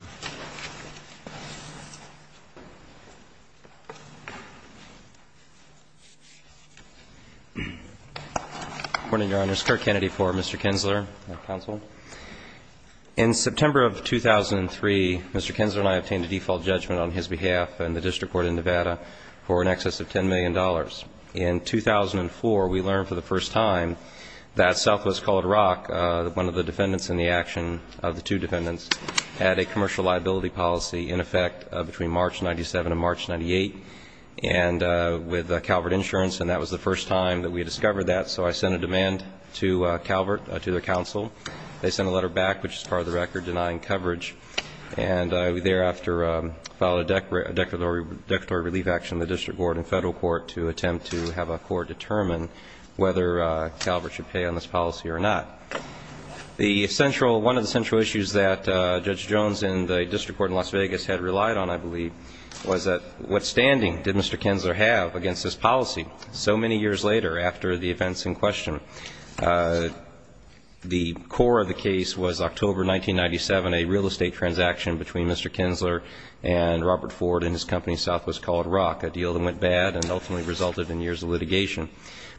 Good morning, Your Honor. It's Kirk Kennedy for Mr. Kinzler, counsel. In September of 2003, Mr. Kinzler and I obtained a default judgment on his behalf in the District Court in Nevada for in excess of $10 million. In 2004, we learned for the first time that Southwest called Rock, one of the defendants in the action of the two defendants, had a commercial liability policy in effect between March 97 and March 98, and with Calvert Insurance, and that was the first time that we had discovered that. So I sent a demand to Calvert, to their counsel. They sent a letter back, which is part of the record, denying coverage. And I thereafter filed a declaratory relief action in the District Court and Federal Court to attempt to have a court determine whether Calvert should pay on this policy or not. The central, one of the central issues that Judge Jones in the District Court in Las Vegas had relied on, I believe, was that what standing did Mr. Kinzler have against this policy so many years later after the events in question? The core of the case was October 1997, a real estate transaction between Mr. Kinzler and Robert Ford and his company Southwest called Rock, a deal that went bad and ultimately resulted in years of litigation.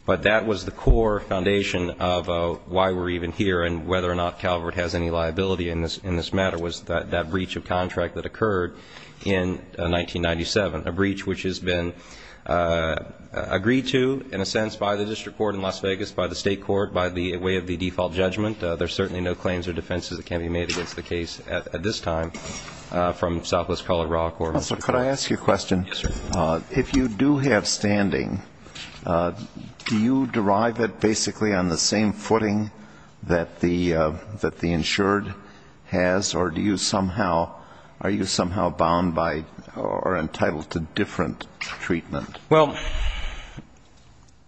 But that was the core foundation of why we're even here and whether or not Calvert has any liability in this matter was that breach of contract that occurred in 1997, a breach which has been agreed to, in a sense, by the District Court in Las Vegas, by the State Court, by the way of the default judgment. There's certainly no claims or defenses that can be made against the case at this time from Southwest called Rock or Mr. Kinzler. Could I ask you a question? Yes, sir. If you do have standing, do you derive it basically on the same footing that the insured has or do you somehow, are you somehow bound by or entitled to different treatment? Well,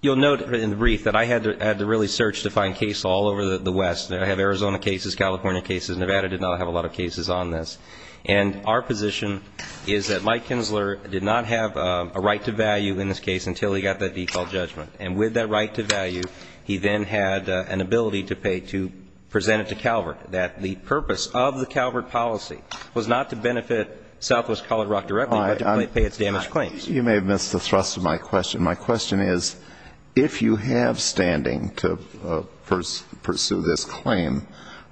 you'll note in the brief that I had to really search to find cases all over the West. I have Arizona cases, California cases. Nevada did not have a lot of cases on this. And our position is that Mike Kinzler did not have a right to value in this case until he got that default judgment. And with that right to value, he then had an ability to pay to present it to Calvert, that the purpose of the Calvert policy was not to benefit Southwest called Rock directly, but to pay its damaged claims. You may have missed the thrust of my question. My question is, if you have standing to pursue this claim,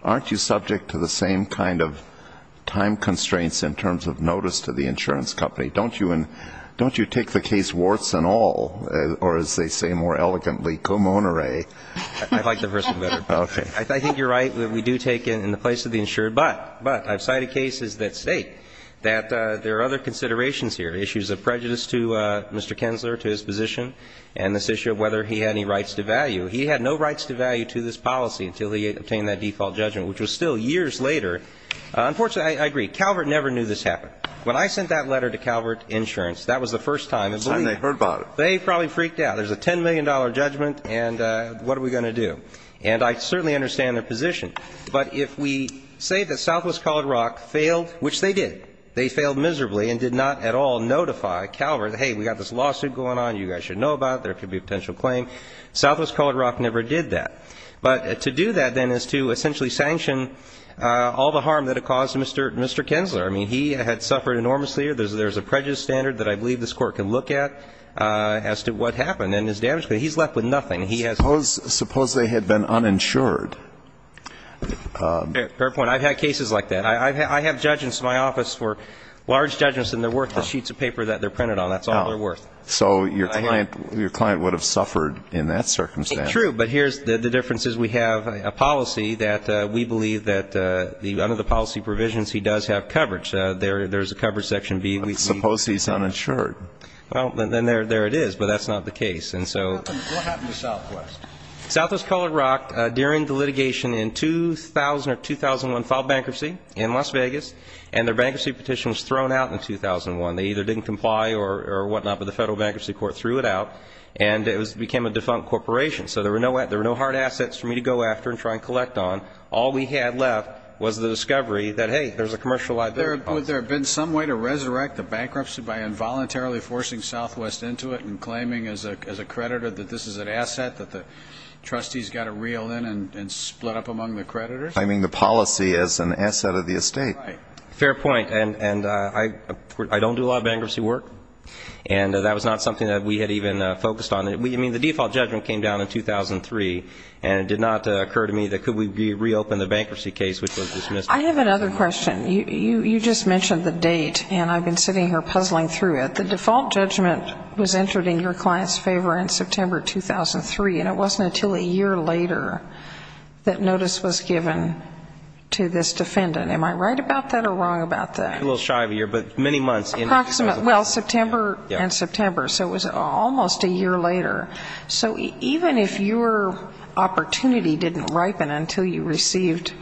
aren't you subject to the same kind of time constraints in terms of notice to the insurance company? Don't you take the case warts and all, or as they say more elegantly, come on, Ray? I like the first one better. I think you're right. We do take it in the place of the insured. But I've cited cases that state that there are other considerations here, issues of prejudice to Mr. Kinzler, to his position, and this issue of whether he had any rights to value. He had no rights to value to this policy until he had obtained that default judgment, which was still years later. Unfortunately, I agree. Calvert never knew this happened. When I sent that letter to Calvert Insurance, that was the first time they heard about it. They probably freaked out. There's a $10 million judgment, and what are we going to do? And I certainly understand their position. But if we say that Southwest called Rock failed, which they did, they failed miserably and did not at all notify Calvert, hey, we got this lawsuit going on, you guys should know about it, there could be a potential claim. Southwest called Rock never did that. But to do that, then, is to essentially sanction all the harm that it caused Mr. Kinzler. I mean, he had suffered enormously. There's a prejudice standard that I believe this Court can look at as to what happened and his damage. But he's left with nothing. He has no ---- Suppose they had been uninsured. Fair point. I've had cases like that. I have judgments in my office for large judgments, and they're worth the sheets of paper that they're printed on. That's all they're worth. So your client would have suffered in that circumstance. True. But here's the difference is we have a policy that we believe that under the policy provisions he does have coverage. There's a coverage section B. Suppose he's uninsured. Then there it is. But that's not the case. What happened to Southwest? Southwest called Rock during the litigation in 2000 or 2001, filed bankruptcy in Las Vegas, and their bankruptcy petition was thrown out in 2001. They either didn't comply or whatnot, but the Federal Bankruptcy Court threw it out, and it became a defunct corporation. So there were no hard assets for me to go after and try and collect on. All we had left was the discovery that, hey, there's a commercial idea. Would there have been some way to resurrect the bankruptcy by involuntarily forcing Southwest into it and claiming as a creditor that this is an asset that the trustees got to reel in and split up among the creditors? Claiming the policy as an asset of the estate. Fair point. And I don't do a lot of bankruptcy work, and that was not something that we had even focused on. I mean, the default judgment came down in 2003, and it did not occur to me that could we reopen the bankruptcy case, which was dismissed. I have another question. You just mentioned the date, and I've been sitting here puzzling through it. The default judgment was entered in your client's favor in September 2003, and it wasn't until a year later that notice was given to this defendant. Am I right about that or wrong about that? I'm a little shy of a year, but many months. Approximately. Well, September and September. So it was almost a year later. So even if your opportunity didn't ripen until you received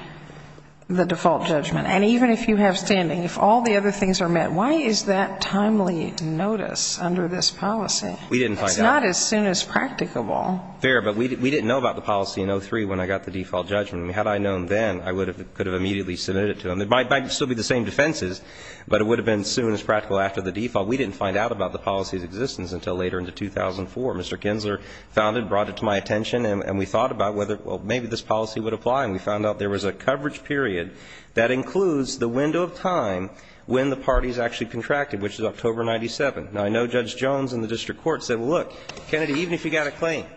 the default judgment, and even if you have standing, if all the other things are met, why is that timely notice under this policy? We didn't find out. It's not as soon as practicable. Fair, but we didn't know about the policy in 2003 when I got the default judgment. Had I known then, I could have immediately submitted it to him. It might still be the same defenses, but it would have been as soon as practical after the default. We didn't find out about the policy's existence until later into 2004. Mr. Kinsler found it, brought it to my attention, and we thought about whether, well, maybe this policy would apply, and we found out there was a coverage period that includes the window of time when the parties actually contracted, which is October 1997. Now, I know Judge Jones in the district court said, well, look, Kennedy, even if you got a claim,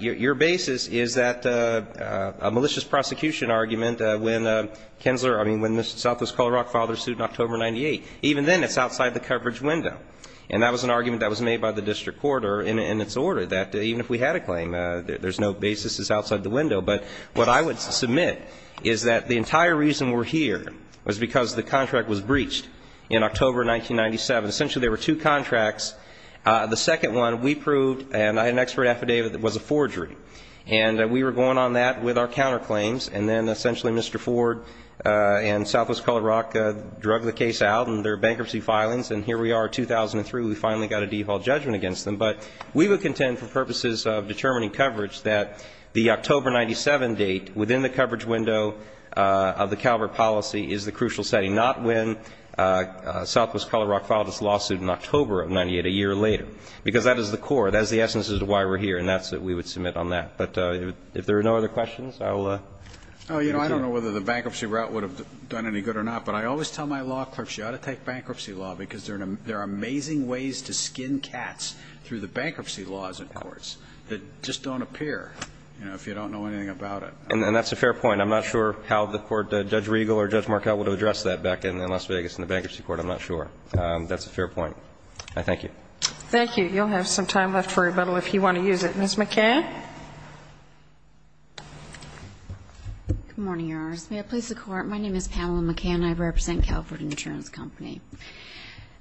your basis is that a malicious prosecution argument when Kinsler, I mean, when Mr. Southwest-Colorado filed their suit in October 1998, even then, it's outside the coverage window, and that was an argument that was made by the district court in its order, that even if we had a claim, there's no basis, it's outside the window. But what I would submit is that the entire reason we're here was because the contract was breached in October 1997. Essentially, there were two contracts. The second one, we proved, and I had an expert affidavit, that it was a forgery. And we were going on that with our counterclaims, and then essentially Mr. Ford and Southwest-Colorado drug the case out, and there were bankruptcy filings, and here we are 2003, we finally got a default judgment against them. But we would contend for purposes of determining coverage that the October 1997 date within the coverage window of the Calvert policy is the crucial setting, not when Southwest-Colorado filed its lawsuit in October of 1998, a year later. Because that is the core, that is the essence of why we're here, and that's what we would submit on that. But if there are no other questions, I'll leave it there. Oh, you know, I don't know whether the bankruptcy route would have done any good or not, but I always tell my law clerks, you ought to take bankruptcy law, because there are amazing ways to skin cats through the bankruptcy laws in courts that just don't appear, you know, if you don't know anything about it. And that's a fair point. I'm not sure how the court, Judge Regal or Judge Markell would have addressed that back in Las Vegas in the bankruptcy court. I'm not sure. That's a fair point. I thank you. Thank you. You'll have some time left for rebuttal if you want to use it. Ms. McCann. Good morning, Your Honors. May it please the Court, my name is Pamela McCann. I represent Calvert Insurance Company.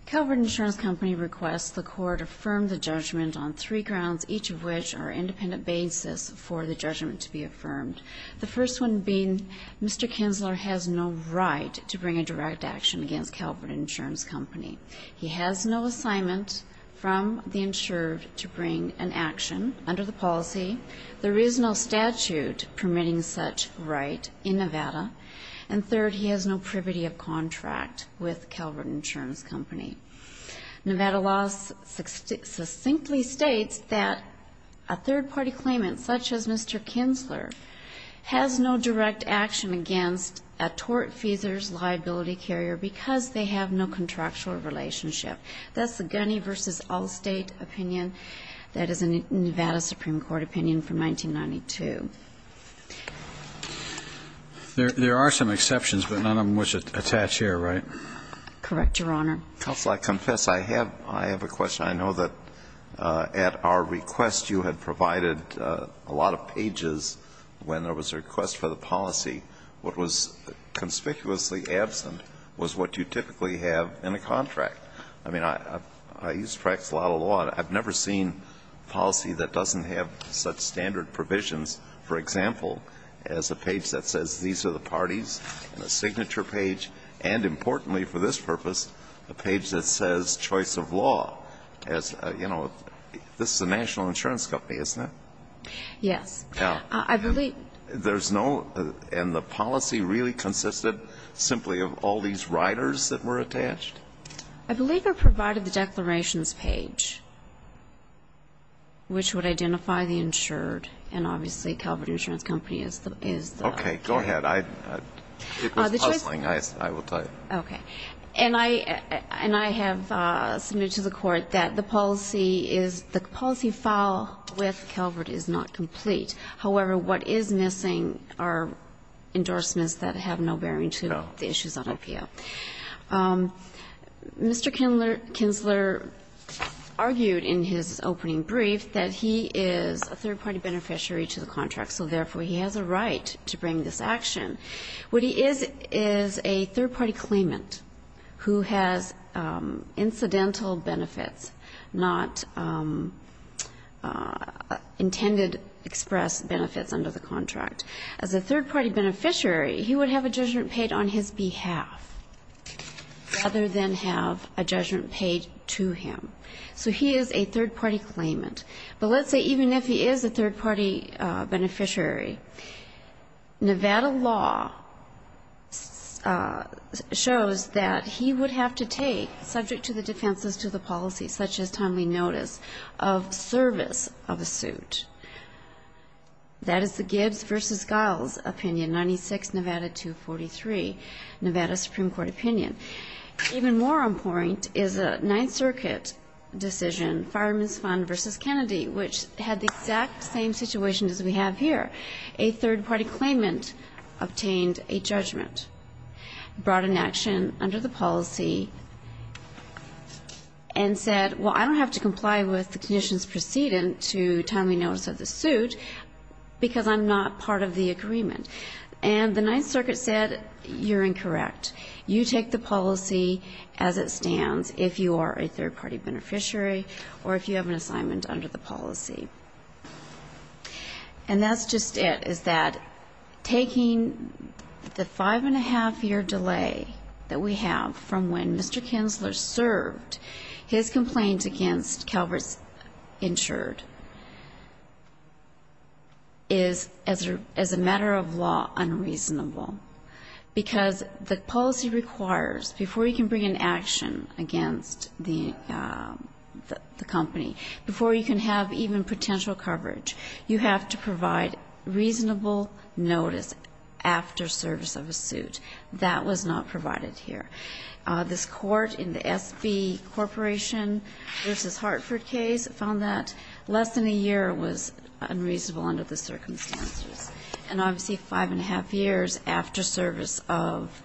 Calvert Insurance Company requests the Court affirm the judgment on three grounds, each of which are independent basis for the judgment to be affirmed. The first one being Mr. Kinsler has no right to bring a direct action against Calvert Insurance Company. He has no assignment from the insured to bring an action under the policy. There is no statute permitting such right in Nevada. And third, he has no privity of contract with Calvert Insurance Company. Nevada law succinctly states that a third party claimant such as Mr. Kinsler has no action against a tortfeasor's liability carrier because they have no contractual relationship. That's the Gunny v. Allstate opinion. That is a Nevada Supreme Court opinion from 1992. There are some exceptions, but none of them was attached here, right? Correct, Your Honor. Counsel, I confess I have a question. I know that at our request you had provided a lot of pages when there was a request for the policy. What was conspicuously absent was what you typically have in a contract. I mean, I used to practice a lot of law, and I've never seen policy that doesn't have such standard provisions, for example, as a page that says these are the parties, and a signature page, and importantly for this purpose, a page that says choice of law as, you know, this is insurance company, isn't it? Yes. And the policy really consisted simply of all these riders that were attached? I believe I provided the declarations page, which would identify the insured, and obviously Calvert Insurance Company is the... Okay, go ahead. It was puzzling, I will tell you. Okay. And I have submitted to the court that the policy file with Calvert is not complete. However, what is missing are endorsements that have no bearing to the issues on IPO. Mr. Kinsler argued in his opening brief that he is a third-party beneficiary to the contract, so therefore he has a right to bring this action. What he is is a third-party claimant who has incidental benefits, not intended express benefits under the contract. As a third-party beneficiary, he would have a judgment paid on his behalf, rather than have a judgment paid to him. So he is a third-party claimant. But let's say even if he is a third-party beneficiary, Nevada law shows that he would have to take, subject to the defenses to the policy, such as timely notice of service of a suit. That is the Gibbs v. Giles opinion, 96 Nevada 243, Nevada Supreme Court opinion. Even more on point is a Ninth Circuit decision, Fireman's Fund v. Kennedy, which had the exact same situation as we have here. A third-party claimant obtained a judgment, brought an action under the policy, and said, well, I don't have to comply with the conditions preceding to timely notice of the suit because I'm not part of the agreement. And the Ninth Circuit would take the policy as it stands if you are a third-party beneficiary or if you have an assignment under the policy. And that's just it, is that taking the five-and-a-half-year delay that we have from when Mr. Kinsler served, his complaint against Calvert's insured, is, as a matter of law, unreasonable. Because the policy requires, before you can bring an action against the company, before you can have even potential coverage, you have to provide reasonable notice after service of a suit. That was not provided here. This Court in the S.B. Corporation v. Hartford case found that less than a year was unreasonable under the circumstances. And, obviously, five-and-a-half years after service of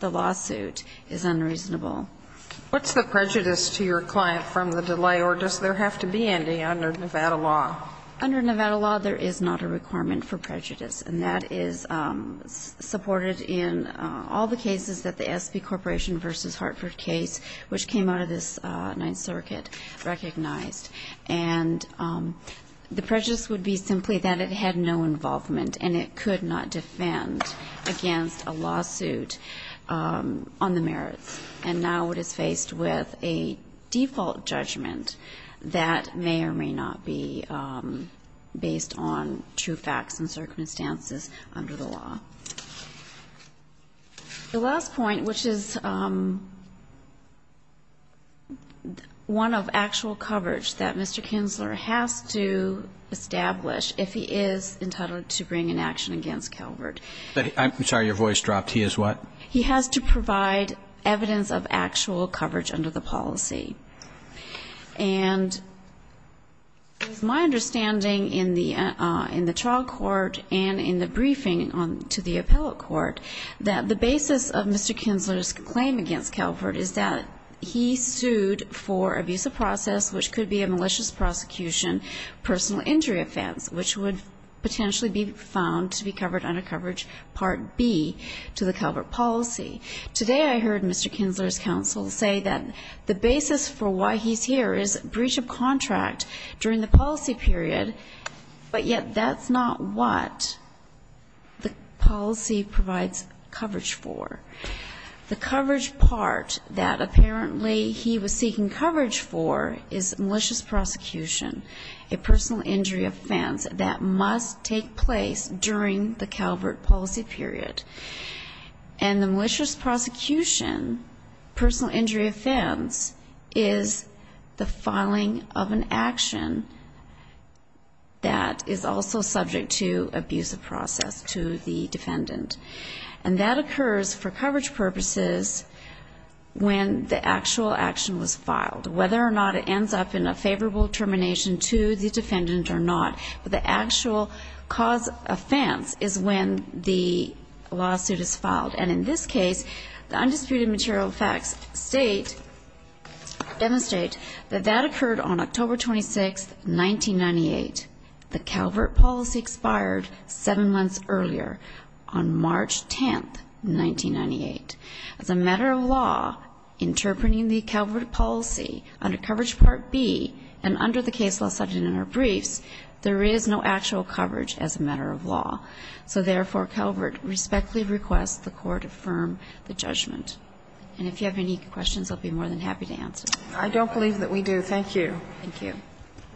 the lawsuit is unreasonable. What's the prejudice to your client from the delay, or does there have to be any under Nevada law? Under Nevada law, there is not a requirement for prejudice, and that is supported in all the cases that the S.B. Corporation v. Hartford case, which came out of this Ninth Circuit, recognized. And the prejudice would be simply that it had no involvement and it could not defend against a lawsuit on the merits. And now it is faced with a default judgment that may or may not be based on true facts and circumstances under the law. The last point, which is one of actual coverage that Mr. Kinsler has to establish if he is entitled to bring an action against Calvert. I'm sorry, your voice dropped. He is what? He has to provide evidence of actual coverage under the policy. And my understanding in the trial court and in the briefing to the appellate court that the basis of Mr. Kinsler's claim against Calvert is that he sued for abuse of process, which could be a malicious prosecution, personal injury offense, which would potentially be found to be covered under coverage Part B to the Calvert policy. Today, I heard Mr. Kinsler's the basis for why he's here is breach of contract during the policy period. But yet that's not what the policy provides coverage for. The coverage part that apparently he was seeking coverage for is malicious prosecution, a personal injury offense that must take place during the Calvert policy period. And the malicious prosecution, personal injury offense, is the filing of an action that is also subject to abuse of process to the defendant. And that occurs for coverage purposes when the actual action was filed, whether or not it ends up in a favorable termination to the defendant or not. But the actual cause offense is when the lawsuit is filed. And in this case, the undisputed material facts state, demonstrate that that occurred on October 26th, 1998. The Calvert policy expired seven months earlier, on March 10th, 1998. As a matter of law, interpreting the Calvert policy under coverage Part B and under the case law cited in our briefs, there is no actual coverage as a matter of law. So therefore, Calvert respectfully requests the Court affirm the judgment. And if you have any questions, I'll be more than happy to answer. I don't believe that we do. Thank you. Thank you.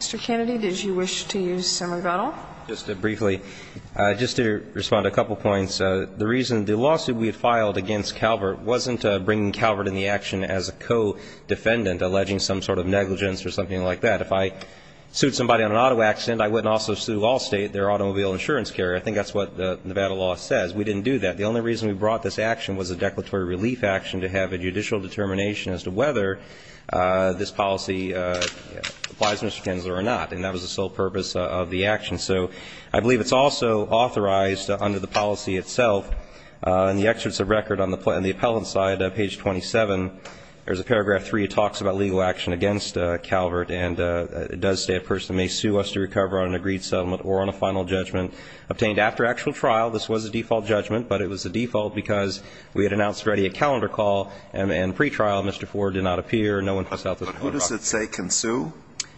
Mr. Kennedy, did you wish to use some rebuttal? Just briefly. Just to respond to a couple of points. The reason the lawsuit we had filed against Calvert wasn't bringing Calvert in the action as a co-defendant, alleging some sort of negligence or something like that. If I sued somebody on an auto accident, I wouldn't also sue Allstate, their automobile insurance carrier. I think that's what the Nevada law says. We didn't do that. The only reason we brought this action was a declaratory relief action to have a judicial determination as to whether this policy applies, Mr. Kennedy, or not. And that was the sole purpose of the action. So I believe it's also authorized under the policy itself. In the excerpts of record on the appellant side, page 27, there's a paragraph 3. It talks about legal action against Calvert. And it does say a person may sue us to recover on an agreed settlement or on a final judgment obtained after actual trial. This was a default judgment, but it was a default because we had announced already a calendar call and pre-trial. Mr. Ford did not appear. No one passed out this photograph. But who does it say can sue?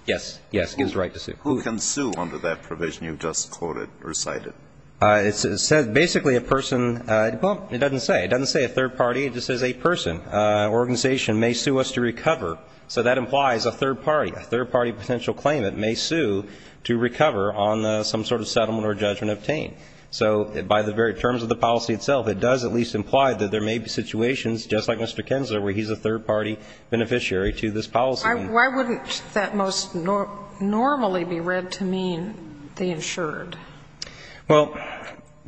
Yes. Yes, it is right to sue. Who can sue under that provision you've just quoted, recited? It says basically a person. Well, it doesn't say. It doesn't say a third party. It just says a person. An organization may sue us to recover. So that implies a third party. A third party potential claimant may sue to recover on some sort of settlement or judgment obtained. So by the very terms of the policy itself, it does at least imply that there may be situations just like Mr. Kensler, where he's a third party beneficiary to this policy. Why wouldn't that most normally be read to mean the insured? Well,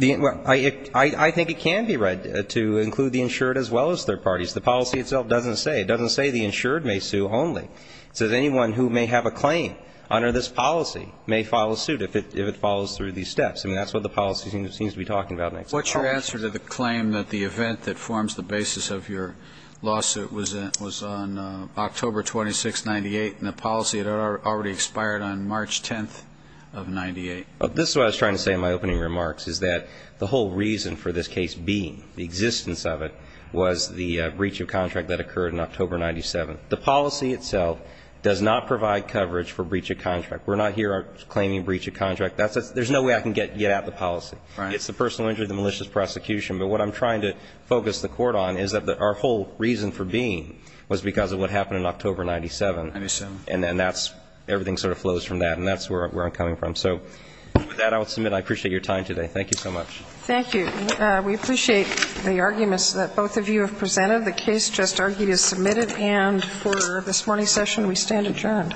I think it can be read to include the insured as well as third parties. The policy itself doesn't say. It doesn't say the insured may sue only. It says anyone who may have a claim under this policy may file a suit if it follows through these steps. I mean, that's what the policy seems to be talking about. What's your answer to the claim that the event that forms the basis of your lawsuit was on October 26, 98, and the policy had already expired on March 10 of 98? This is what I was trying to say in my opening remarks, is that the whole reason for this case being, the existence of it, was the breach of contract that occurred in October 97. The policy itself does not provide coverage for breach of contract. We're not here claiming breach of contract. There's no way I can get at the policy. It's the personal injury, the malicious prosecution. But what I'm trying to focus the court on is that our reason for being was because of what happened in October 97. I assume. And then that's, everything sort of flows from that. And that's where I'm coming from. So with that, I will submit. I appreciate your time today. Thank you so much. Thank you. We appreciate the arguments that both of you have presented. The case just argued is submitted. And for this morning's session, we stand adjourned.